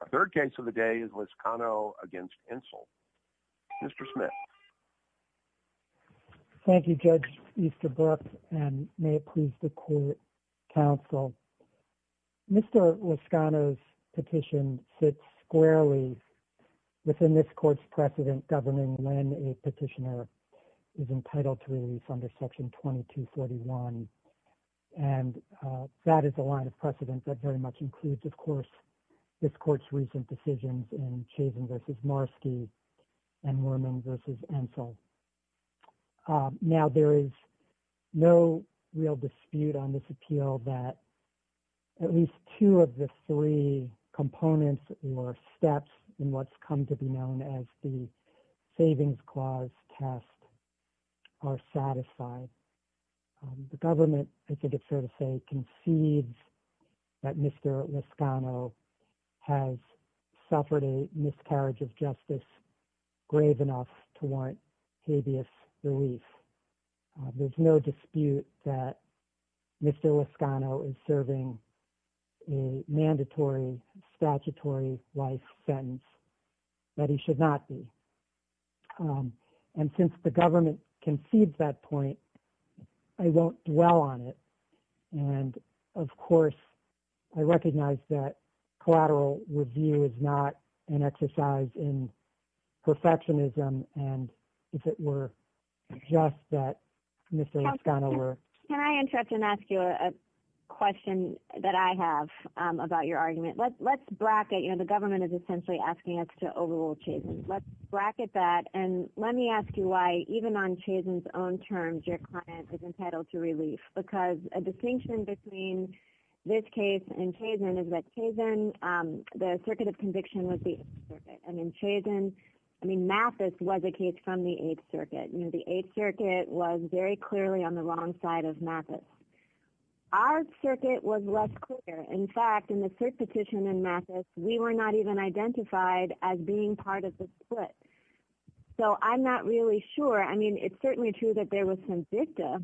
Our third case of the day is Liscano v. Entzel. Mr. Smith. Thank you, Judge Easterbrook, and may it please the court, counsel. Mr. Liscano's petition sits squarely within this court's precedent governing when a petitioner is entitled to release under Section 2241, and that is a line of precedent that very much includes, of course, this court's recent decisions in Chazin v. Marski and Worman v. Entzel. Now, there is no real dispute on this appeal that at least two of the three components or steps in what's come to be known as the petition are satisfied. The government, I think it's fair to say, concedes that Mr. Liscano has suffered a miscarriage of justice grave enough to warrant habeas relief. There's no dispute that Mr. Liscano is serving a mandatory statutory life sentence that he should not be. And since the government concedes that point, I won't dwell on it. And, of course, I recognize that collateral review is not an exercise in perfectionism and, if it were, just that Mr. Liscano were... Can I interrupt and ask you a question that I have about your argument? Let's bracket, you know, the government is essentially asking us to overrule Chazin. Let's bracket that. And let me ask you why, even on Chazin's own terms, your client is entitled to relief. Because a distinction between this case and Chazin is that Chazin, the circuit of conviction was the 8th Circuit. And in Chazin, I mean, Mathis was a case from the 8th Circuit. You know, the 8th Circuit was very clearly on the wrong side of Mathis. Our circuit was less clear. In fact, in the third petition in Mathis, we were not even identified as being part of the split. So I'm not really sure. I mean, it's certainly true that there was some dicta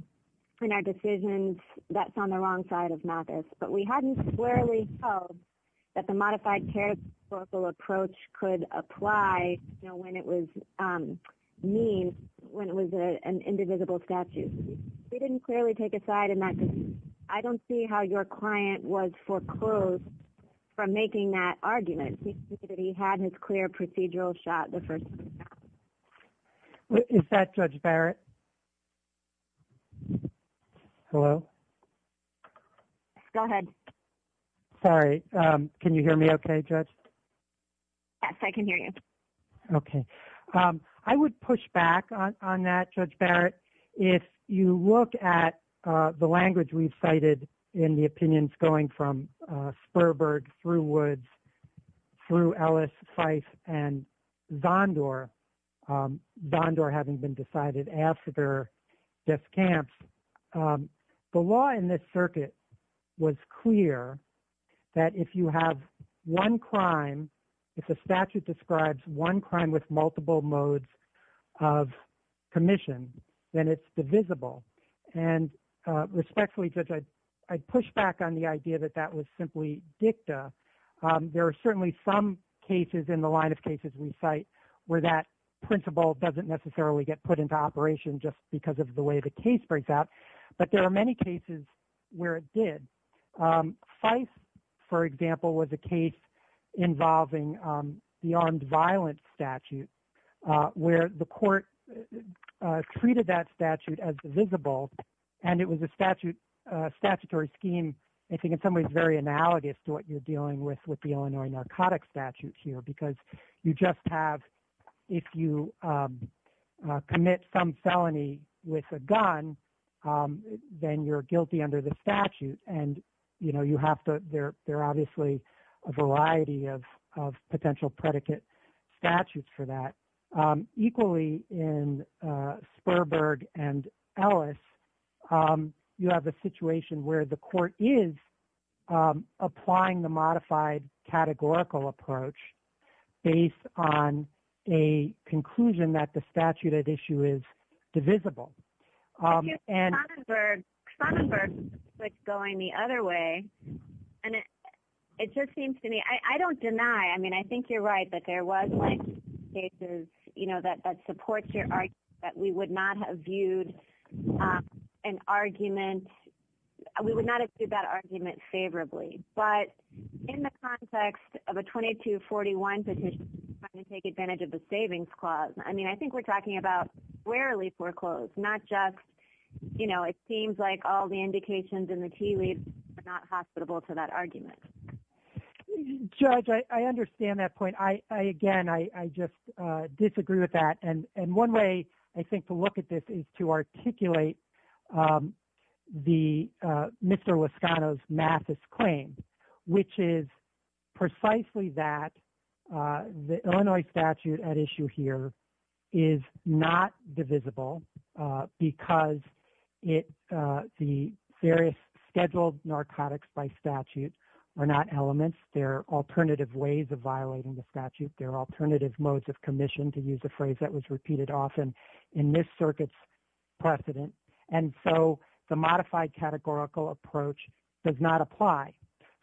in our decisions that's on the wrong side of Mathis. But we hadn't clearly held that the modified characterical approach could apply, you know, when it was mean, when it was an indivisible statute. We didn't clearly take a side in that. I don't see how your client was foreclosed from making that argument. He had his clear procedural shot the first time. Is that Judge Barrett? Hello? Go ahead. Sorry. Can you hear me okay, Judge? Yes, I can hear you. Okay. I would push back on that, Judge Barrett. If you look at the language we've cited in the opinions going from Sperberg through Woods through Ellis, Fife, and Zondor, Zondor having been decided after death camps, the law in this circuit was clear that if you have one crime, if the statute describes one crime with multiple modes of commission, then it's divisible. And respectfully, Judge, I'd push back on the idea that that was simply dicta. There are certainly some cases in the line of cases we cite where that principle doesn't necessarily get put into operation just because of the way the case breaks out. But there are many cases where it did. Fife, for example, was a case involving the armed violence statute where the court treated that statute as divisible. And it was a statutory scheme, I think, in some ways, very analogous to what you're dealing with with the Illinois narcotics statute here. Because you just have if you commit some felony with a gun, then you're guilty under the statute. And there are obviously a variety of potential predicate statutes for that. Equally, in Sperberg and Ellis, you have a situation where the court is applying the modified categorical approach based on a conclusion that the statute at issue is divisible. And- Sonnenberg, Sonnenberg is going the other way. And it just seems to me, I don't deny, I think you're right that there was cases that supports your argument that we would not have viewed an argument, we would not have viewed that argument favorably. But in the context of a 2241 petition trying to take advantage of the savings clause, I mean, I think we're talking about rarely foreclosed, not just it seems like all the indications in the key leads are not hospitable to that argument. Judge, I understand that point. I, again, I just disagree with that. And one way, I think, to look at this is to articulate the Mr. Loscano's massive claim, which is precisely that the Illinois statute at issue here is not divisible because it, the various scheduled narcotics by statute are not elements. They're alternative ways of violating the statute. There are alternative modes of commission to use a phrase that was repeated often in this circuit's precedent. And so the modified categorical approach does not apply.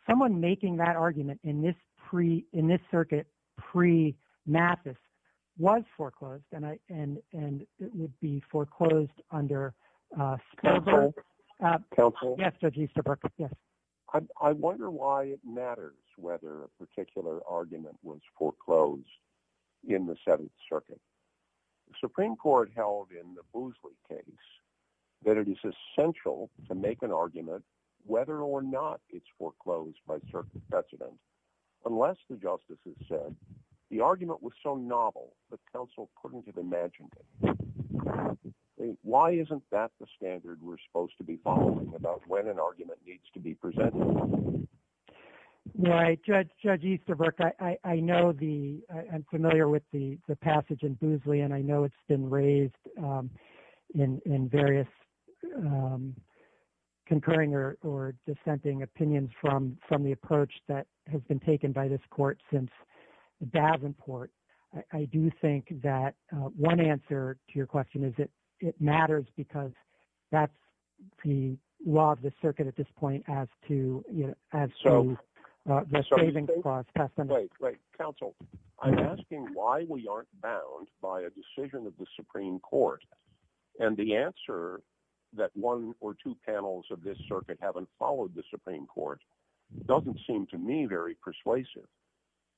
Someone making that argument in this pre, in this circuit pre-Mathis was foreclosed and I, and, it would be foreclosed under. Counsel. Yes. Judge Easterbrook. Yes. I wonder why it matters whether a particular argument was foreclosed in the seventh circuit, the Supreme court held in the Boosley case, that it is essential to make an argument, whether or not it's foreclosed by certain precedent, unless the justices said the argument was so novel, the council couldn't have imagined it. Okay. Why isn't that the standard we're supposed to be following about when an argument needs to be presented? Right. Judge Easterbrook. I know the, I'm familiar with the passage in Boosley and I know it's been raised in various concurring or dissenting opinions from, from the approach that has been taken by this court since Davenport. I do think that one answer to your question is that it matters because that's the law of the circuit at this point as to, you know, as to the saving cost. Counsel, I'm asking why we aren't bound by a decision of the Supreme court and the answer that one or two panels of this circuit haven't followed the Supreme court doesn't seem to me very persuasive.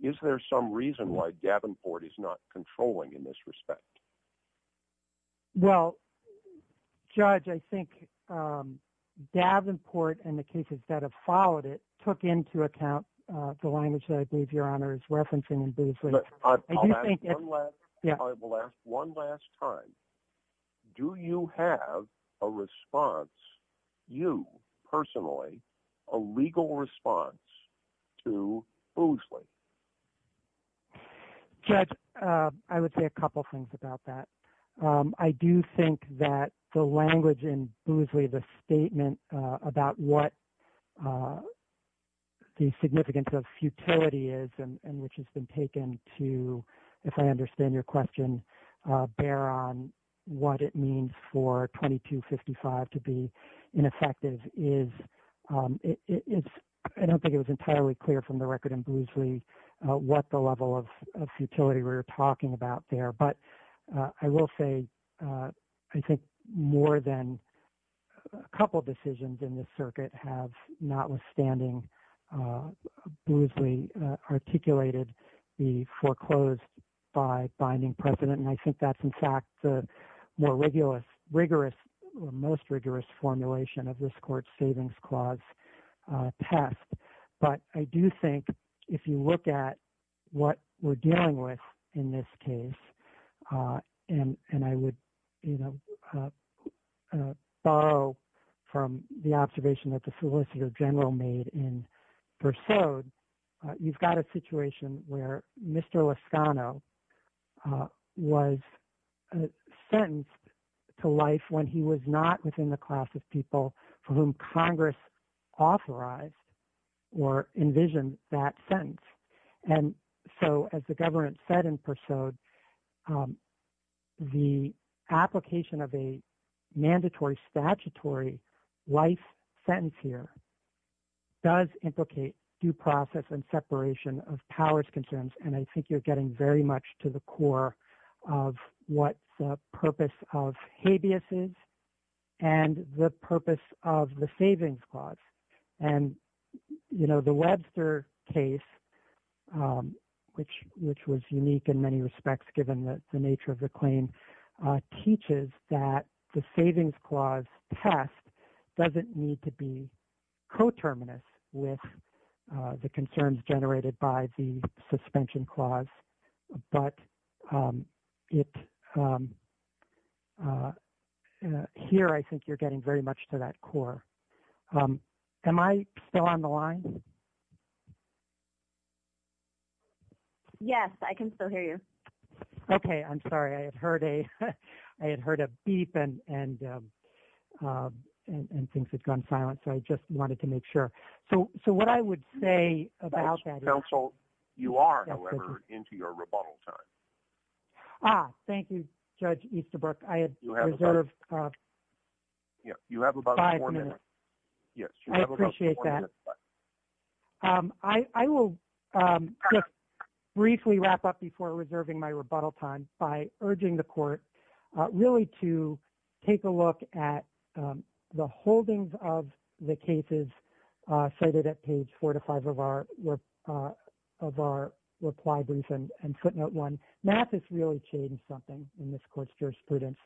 Is there some reason why Davenport is not controlling in this respect? Well, judge, I think, um, Davenport and the cases that have followed it took into account, uh, the language that I believe your honor is referencing in Boosley. I will ask one last time, do you have a response, you personally, a legal response to Boosley? Judge, uh, I would say a couple of things about that. Um, I do think that the language in Boosley, the statement, uh, about what, uh, the significance of futility is and which has been taken to, if I understand your question, uh, bear on what it means for 2255 to be ineffective is, um, it's, I don't think it was entirely clear from the record in Boosley, uh, what the level of futility we were talking about there, but, uh, I will say, uh, I think more than a couple of decisions in this circuit have not withstanding, uh, Boosley, uh, articulated the foreclosed by binding precedent. And I think that's in fact, the more rigorous, rigorous, most rigorous formulation of this court clause, uh, test. But I do think if you look at what we're dealing with in this case, uh, and, and I would, you know, uh, uh, borrow from the observation that the solicitor general made in pursuit, uh, you've got a situation where Mr. Lascano, uh, was sentenced to life when he was not within the class of people for whom Congress authorized or envision that sentence. And so as the government said in pursuit, um, the application of a mandatory statutory life sentence here does implicate due process and separation of powers concerns. And I think you're getting very much to the core of what the purpose of habeas is and the purpose of the savings clause. And, you know, the Webster case, um, which, which was unique in many respects, given the nature of the claim, uh, teaches that the savings clause test doesn't need to be but, um, it, um, uh, uh, here, I think you're getting very much to that core. Um, am I still on the line? Yes, I can still hear you. Okay. I'm sorry. I had heard a, I had heard a beep and, and, um, uh, and, and things had gone silent. So I just wanted to make sure. So, so what I would say about that counsel, you are into your rebuttal time. Ah, thank you. Judge Easterbrook. I had five minutes. Yes. I appreciate that. Um, I, I will, um, briefly wrap up before reserving my rebuttal time by urging the court, uh, really to take a look at, um, the holdings of the cases, uh, cited at page four to five of our, uh, of our reply brief and footnote one. Mathis really changed something in this court's jurisprudence.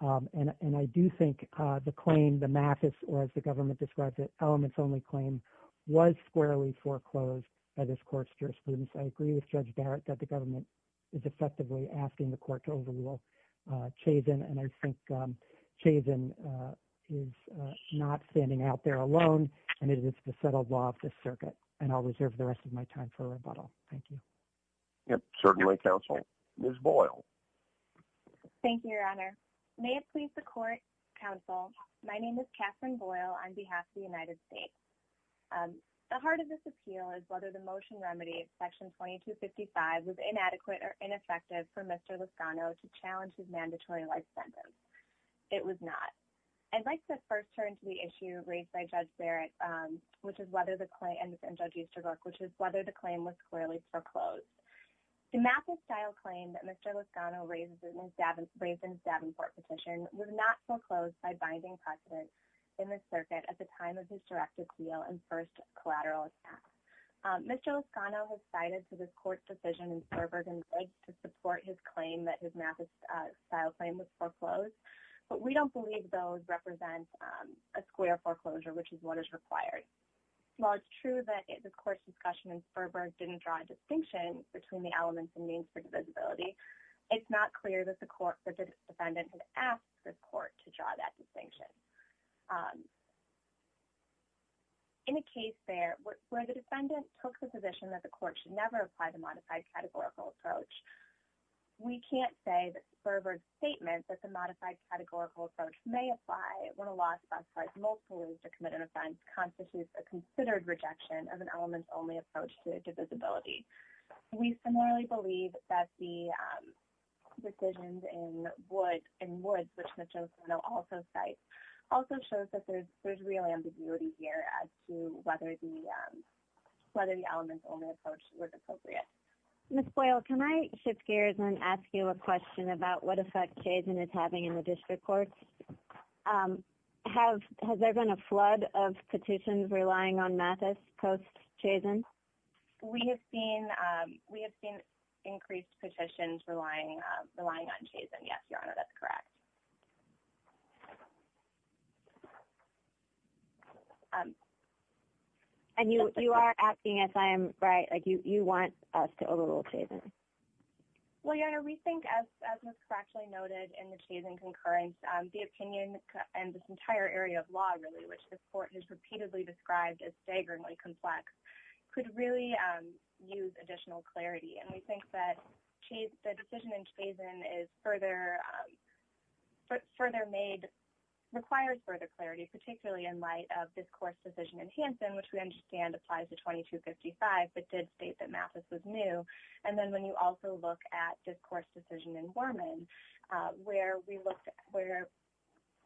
Um, and, and I do think, uh, the claim, the Mathis, or as the government describes it, elements only claim was squarely foreclosed by this court's jurisprudence. I agree with Judge Barrett that the government is effectively asking the court to overrule, uh, Chazin and I is, uh, not standing out there alone. And it is the settled law of the circuit and I'll reserve the rest of my time for rebuttal. Thank you. Yep. Certainly counsel Ms. Boyle. Thank you, your honor. May it please the court counsel. My name is Catherine Boyle on behalf of the United States. Um, the heart of this appeal is whether the motion remedy section 2255 was inadequate or ineffective for Mr. Lascano to challenge his mandatory life sentence. It was not. I'd like to first turn to the issue raised by Judge Barrett, um, which is whether the claim, and Judge Easterbrook, which is whether the claim was squarely foreclosed. The Mathis style claim that Mr. Lascano raised in his Davenport petition was not foreclosed by binding precedent in the circuit at the time of his directive appeal and first collateral attack. Mr. Lascano has cited to this court's decision in Sturberg and Riggs to support his claim that his Mathis style claim was foreclosed, but we don't believe those represent, um, a square foreclosure, which is what is required. While it's true that the court's discussion in Sturberg didn't draw a distinction between the elements and means for divisibility, it's not clear that the court, that the defendant had asked the court to draw that distinction. Um, in a case there where the defendant took the position that the court should never apply modified categorical approach, we can't say that Sturberg's statement that the modified categorical approach may apply when a law specifies multiple ways to commit an offense constitutes a considered rejection of an element-only approach to divisibility. We similarly believe that the, um, decisions in Woods, which Mr. Lascano also cites, also shows that there's real ambiguity here as to whether the, um, whether the element-only approach was appropriate. Ms. Boyle, can I shift gears and ask you a question about what effect Chazen is having in the district courts? Um, have, has there been a flood of petitions relying on Mathis post-Chazen? We have seen, um, we have seen increased petitions relying, uh, relying on us to overrule Chazen. Well, Jana, we think as, as was correctly noted in the Chazen concurrence, um, the opinion and this entire area of law, really, which this court has repeatedly described as staggeringly complex, could really, um, use additional clarity. And we think that the decision in Chazen is further, um, further made, requires further clarity, particularly in this court's decision in Hansen, which we understand applies to 2255, but did state that Mathis was new. And then when you also look at this court's decision in Worman, uh, where we looked at, where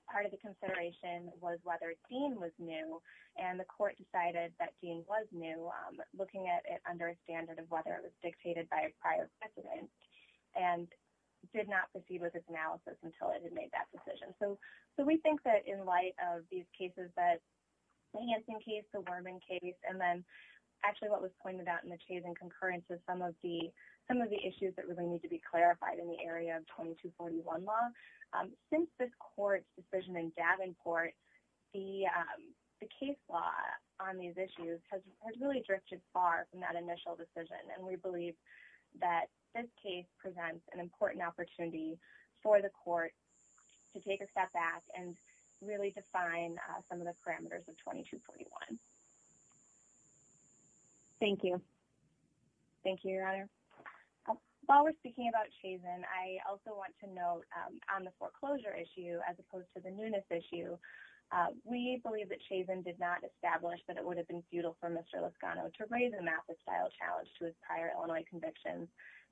part of the consideration was whether Dean was new, and the court decided that Dean was new, um, looking at it under a standard of whether it was dictated by a prior precedent, and did not proceed with its analysis until it had made that decision. So, we think that in light of these cases that the Hansen case, the Worman case, and then actually what was pointed out in the Chazen concurrence is some of the, some of the issues that really need to be clarified in the area of 2241 law. Um, since this court's decision in Davenport, the, um, the case law on these issues has really drifted far from that initial decision. And we believe that this case presents an important opportunity for the court to take a step back and really define, uh, some of the parameters of 2241. Thank you. Thank you, Your Honor. While we're speaking about Chazen, I also want to note, um, on the foreclosure issue, as opposed to the newness issue, uh, we believe that Chazen did not establish that it would have been futile for Mr. Lascano to raise a Mathis-style challenge to his prior Illinois convictions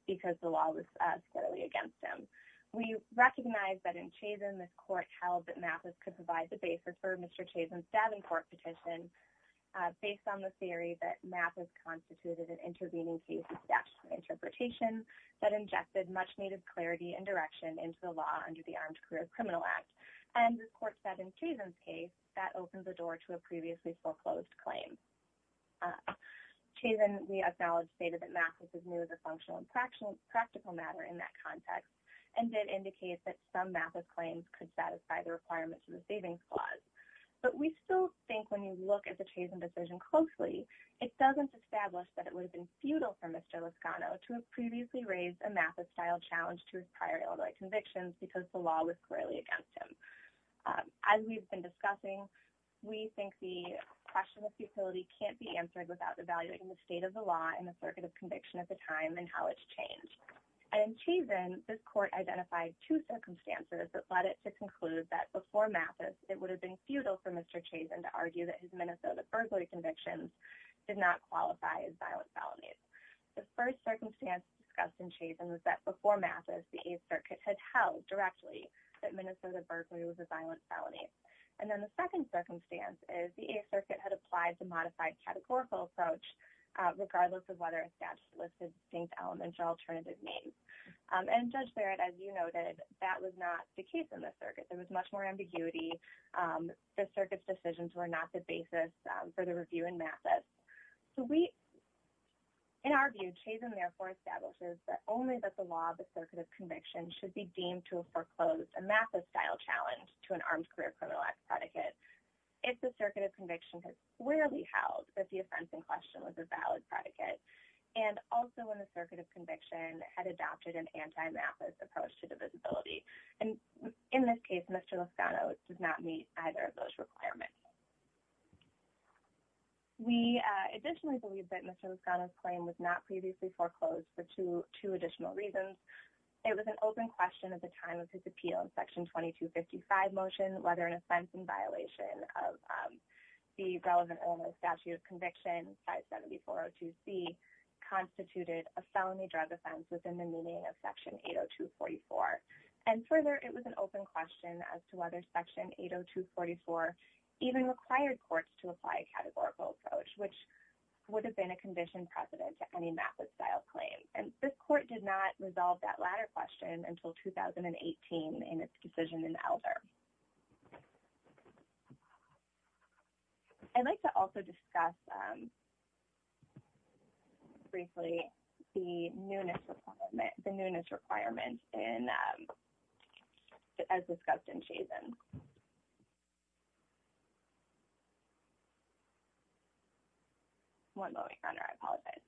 because the law was, uh, scarily against him. We recognize that in Chazen, this court held that Mathis could provide the basis for Mr. Chazen's Davenport petition, uh, based on the theory that Mathis constituted an intervening case of statutory interpretation that ingested much needed clarity and direction into the law under the Armed Career Criminal Act. And the court said in Chazen's case that opened the door to a previously foreclosed claim. Chazen, we acknowledge, stated that Mathis is new as a functional and practical matter in that context and did indicate that some Mathis claims could satisfy the requirements of the savings clause. But we still think when you look at the Chazen decision closely, it doesn't establish that it would have been futile for Mr. Lascano to have previously raised a Mathis-style challenge to his prior Illinois convictions because the law was scarily against him. Um, as we've been discussing, we think the question of futility can't be answered without evaluating the state of the law and the circuit of conviction at the time and how it's changed. In Chazen, this court identified two circumstances that led it to conclude that before Mathis, it would have been futile for Mr. Chazen to argue that his Minnesota first-degree convictions did not qualify as Mathis. The Eighth Circuit had held directly that Minnesota Berkeley was a violent felony. And then the second circumstance is the Eighth Circuit had applied the modified categorical approach regardless of whether a statute listed distinct elements or alternative names. And Judge Barrett, as you noted, that was not the case in this circuit. There was much more ambiguity. The circuit's decisions were not the basis for the review in Mathis. So we, in our view, Chazen therefore establishes that only that the law of the circuit of conviction should be deemed to foreclose a Mathis-style challenge to an armed career criminal act predicate if the circuit of conviction had squarely held that the offense in question was a valid predicate and also when the circuit of conviction had adopted an anti-Mathis approach to divisibility. And in this case, Mr. Lascano does not meet either of those requirements. We additionally believe that Mr. Lascano's claim was not previously foreclosed for two additional reasons. It was an open question at the time of his appeal in Section 2255 motion whether an offense in violation of the relevant Illinois statute of conviction, Site 7402C, constituted a felony drug offense within the meaning of Section 80244. And further, it was an open question as to whether Section 80244 even required courts to apply a categorical approach, which would have been a condition precedent to any Mathis-style claim. And this court did not resolve that latter question until 2018 in its decision in Elder. I'd like to also discuss briefly the newness requirement as discussed in Chazen. One moment, Your Honor. I apologize.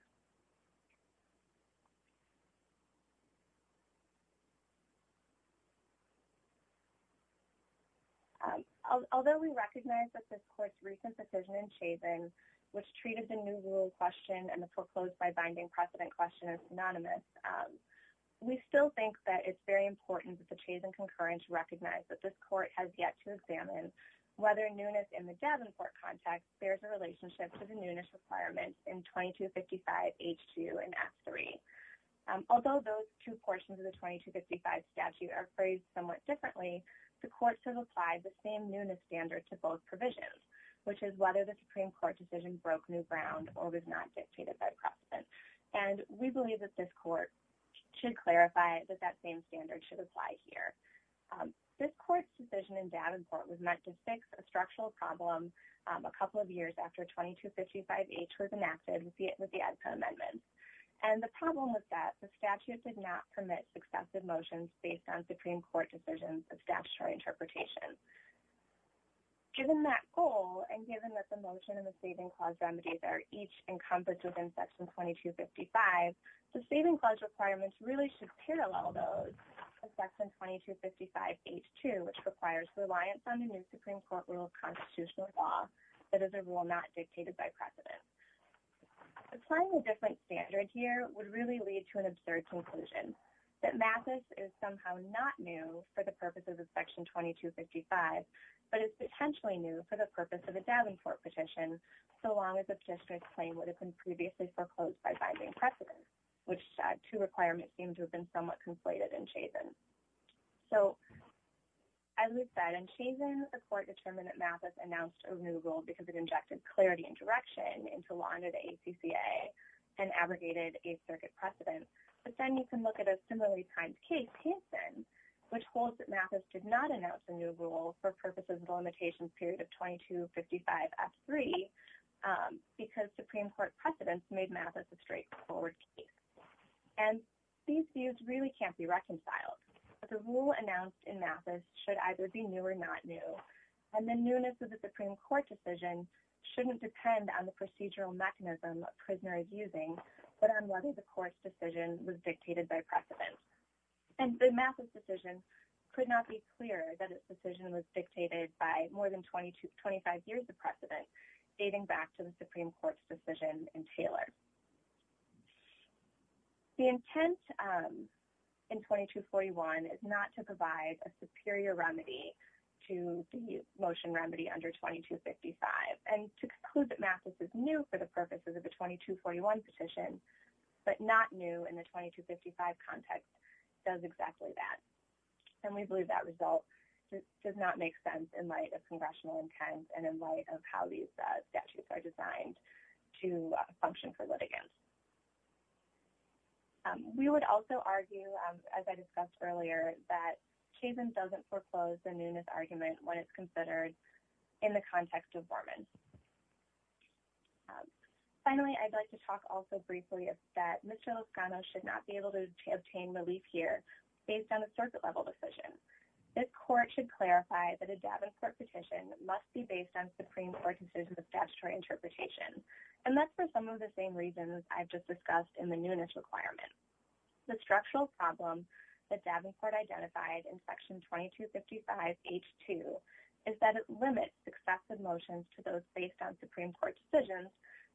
Although we recognize that this court's recent decision in Chazen, which treated the new rule question and the foreclosed by binding precedent question as synonymous, we still think that it's very important that the Chazen concurrence recognize that this court has yet to examine whether newness in the Davenport context bears a relationship to the newness requirements in 2255H2 and F3. Although those two portions of the 2255 statute are phrased somewhat differently, the court should apply the same newness standard to both provisions, which is whether the Supreme Court decision broke new ground or was not dictated by precedent. And we believe that this court should clarify that that same standard should apply here. This court's decision in Davenport was meant to fix a structural problem a couple of years after 2255H was enacted with the EDSA amendments. And the problem was that the statute did not permit successive motions based on Supreme Court decisions of statutory interpretation. Given that goal and given that the motion and the saving clause remedies are each encompassed section 2255, the saving clause requirements really should parallel those of section 2255H2, which requires reliance on the new Supreme Court rule of constitutional law that is a rule not dictated by precedent. Applying a different standard here would really lead to an absurd conclusion that Mathis is somehow not new for the purposes of section 2255, but it's potentially new for the purpose of a Davenport petition, so long as the petitioner's claim would have been previously foreclosed by binding precedent, which two requirements seem to have been somewhat conflated in Chazin. So, as we said, in Chazin, the court determined that Mathis announced a new rule because it injected clarity and direction into law under the ACCA and abrogated a circuit precedent. But then you can look at a similarly timed case, Hanson, which holds that Mathis did not announce a new rule for purposes of the limitations period of 2255F3 because Supreme Court precedents made Mathis a straightforward case. And these views really can't be reconciled. The rule announced in Mathis should either be new or not new, and the newness of the Supreme Court decision shouldn't depend on the procedural mechanism a prisoner is using, but on whether the decision was dictated by more than 25 years of precedent, dating back to the Supreme Court's decision in Taylor. The intent in 2241 is not to provide a superior remedy to the motion remedy under 2255, and to conclude that Mathis is new for the purposes of the 2241 petition, but not new in the 2255 context, does exactly that. And we believe that result does not make sense in light of congressional intent and in light of how these statutes are designed to function for litigants. We would also argue, as I discussed earlier, that Chazin doesn't foreclose the newness argument when it's considered in the context of Borman. Finally, I'd like to talk also briefly that Mr. Lozcano should not be able to obtain relief here based on a circuit-level decision. This court should clarify that a Davenport petition must be based on Supreme Court decisions of statutory interpretation, and that's for some of the same reasons I've just discussed in the newness requirement. The structural problem that Supreme Court decisions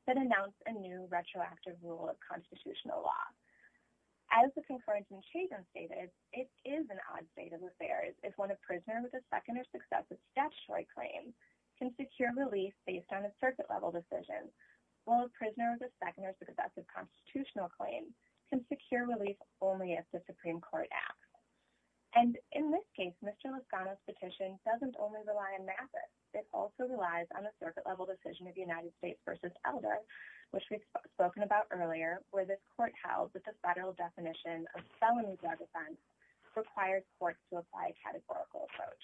that announce a new retroactive rule of constitutional law. As the concurrence in Chazin stated, it is an odd state of affairs if one of prisoners with a second or successive statutory claim can secure relief based on a circuit-level decision, while a prisoner with a second or successive constitutional claim can secure relief only if the Supreme Court acts. And in this case, Mr. Lozcano's petition doesn't only rely on Mathis, it also relies on a circuit-level decision of United States v. Elder, which we've spoken about earlier, where this court held that the federal definition of felony drug offense required courts to apply a categorical approach.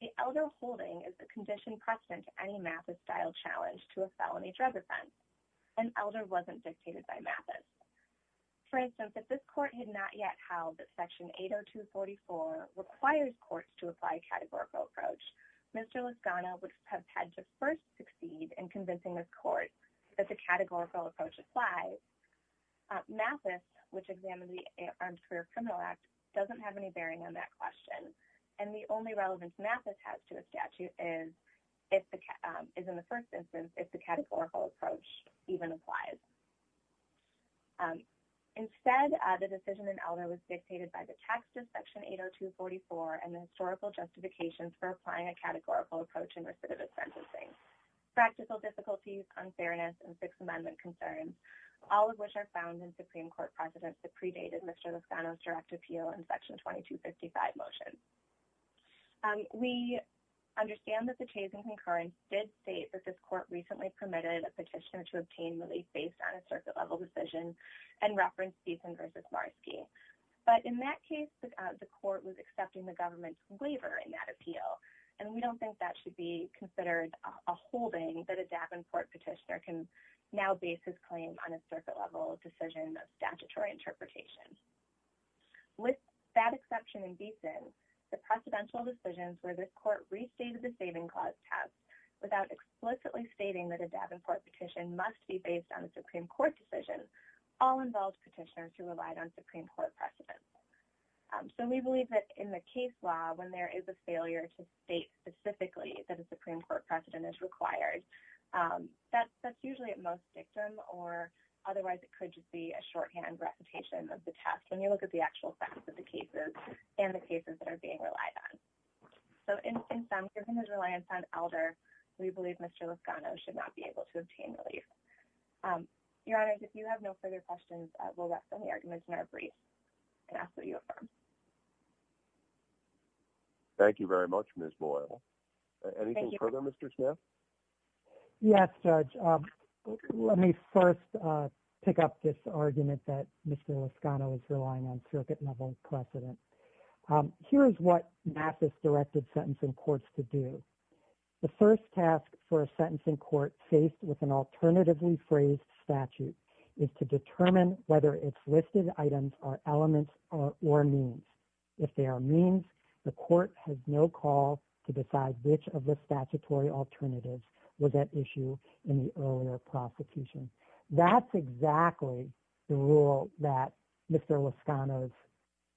The Elder holding is a condition precedent to any Mathis-style challenge to a felony drug offense, and Elder wasn't dictated by Mathis. For instance, if this has had to first succeed in convincing this court that the categorical approach applies, Mathis, which examined the Armed Career Criminal Act, doesn't have any bearing on that question, and the only relevance Mathis has to a statute is in the first instance if the categorical approach even applies. Instead, the decision in Elder was dictated by the text of Section 80244 and Historical Justifications for Applying a Categorical Approach in Recidivist Sentencing, Practical Difficulties, Unfairness, and Sixth Amendment Concerns, all of which are found in Supreme Court precedents that predated Mr. Lozcano's direct appeal in Section 2255 motion. We understand that the case in concurrence did state that this court recently permitted a petitioner to obtain relief based on a circuit-level decision and referenced Steven v. Marski. But in that case, the court was accepting the government's waiver in that appeal, and we don't think that should be considered a holding that a Davenport petitioner can now base his claim on a circuit-level decision of statutory interpretation. With that exception in Beeson, the precedential decisions where the court restated the saving clause test without explicitly stating that a Davenport petition must be based on a Supreme Court decision all involved petitioners who relied on Supreme Court precedents. So we believe that in the case law, when there is a failure to state specifically that a Supreme Court precedent is required, that's usually at most dictum or otherwise it could just be a shorthand repetition of the test when you look at the actual facts of the cases and the cases that are being relied on. So in sum, given his reliance on Elder, we believe Mr. Lozcano should not be able to obtain relief. Your Honors, if you have no further questions, we'll wrap up the argument in our brief and ask that you affirm. Thank you very much, Ms. Boyle. Anything further, Mr. Smith? Yes, Judge. Let me first pick up this argument that Mr. Lozcano is relying on circuit-level precedent. Here is what NAFIS-directed sentencing courts could do. The first task for a sentencing court faced with an alternatively phrased statute is to determine whether its listed items are elements or means. If they are means, the court has no call to decide which of the statutory alternatives was at issue in the earlier prosecution. That's exactly the rule that Mr. Lozcano's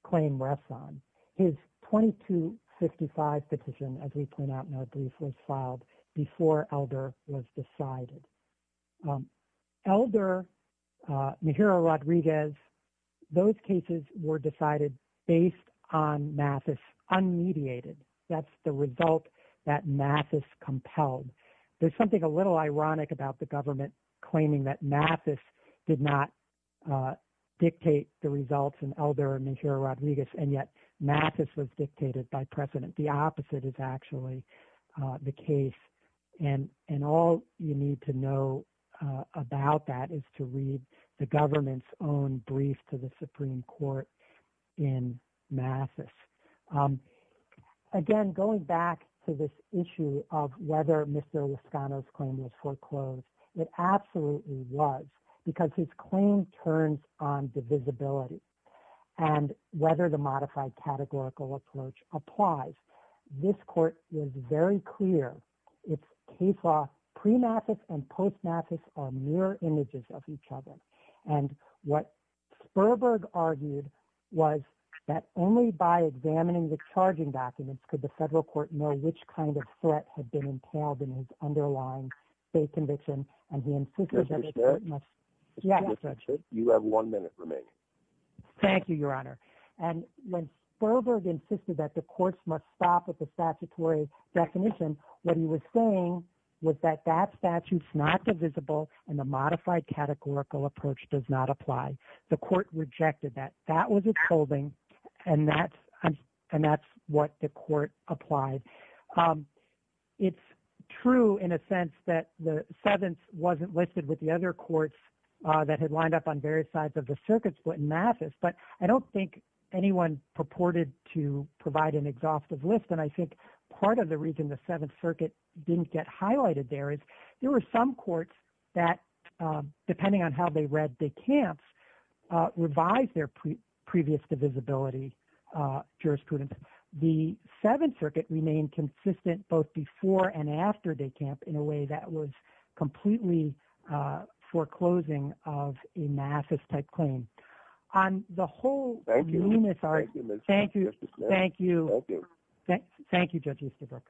claim rests on. His 2255 petition, as we point out in our brief, was filed before Elder was decided. Elder, Najira Rodriguez, those cases were decided based on NAFIS, unmediated. That's the result that NAFIS compelled. There's something a little ironic about the government claiming that NAFIS did not dictate the results in Elder and Najira Rodriguez, and yet NAFIS was dictated by precedent. The opposite is actually the case. All you need to know about that is to read the government's own brief to the Supreme Court in NAFIS. Again, going back to this issue of whether Mr. Lozcano's claim was foreclosed, it absolutely was because his claim turns on divisibility and whether the modified categorical approach applies. This court was very clear its case law pre-NAFIS and post-NAFIS are mirror images of each other. What Sperberg argued was that only by examining the charging documents could the federal court know which kind of threat had been entailed in his underlying state conviction. You have one minute remaining. Thank you, Your Honor. When Sperberg insisted that the courts must stop with the statutory definition, what he was saying was that that statute's not divisible and the modified categorical approach does not apply. The court rejected that. That was its holding, and that's what the court applied. It's true in a sense that the Seventh wasn't listed with the other courts that had lined up on various sides of the circuit split in NAFIS, but I don't think anyone purported to provide an exhaustive list. I think part of the reason the Seventh Circuit didn't get highlighted there is there were some courts that, depending on how they read DeCamps, revised their previous divisibility jurisprudence. The Seventh Circuit remained consistent both before and after DeCamp in a way that was completely foreclosing of a NAFIS-type claim. Thank you, Judge Easterbrook.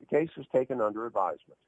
The case was taken under advisement.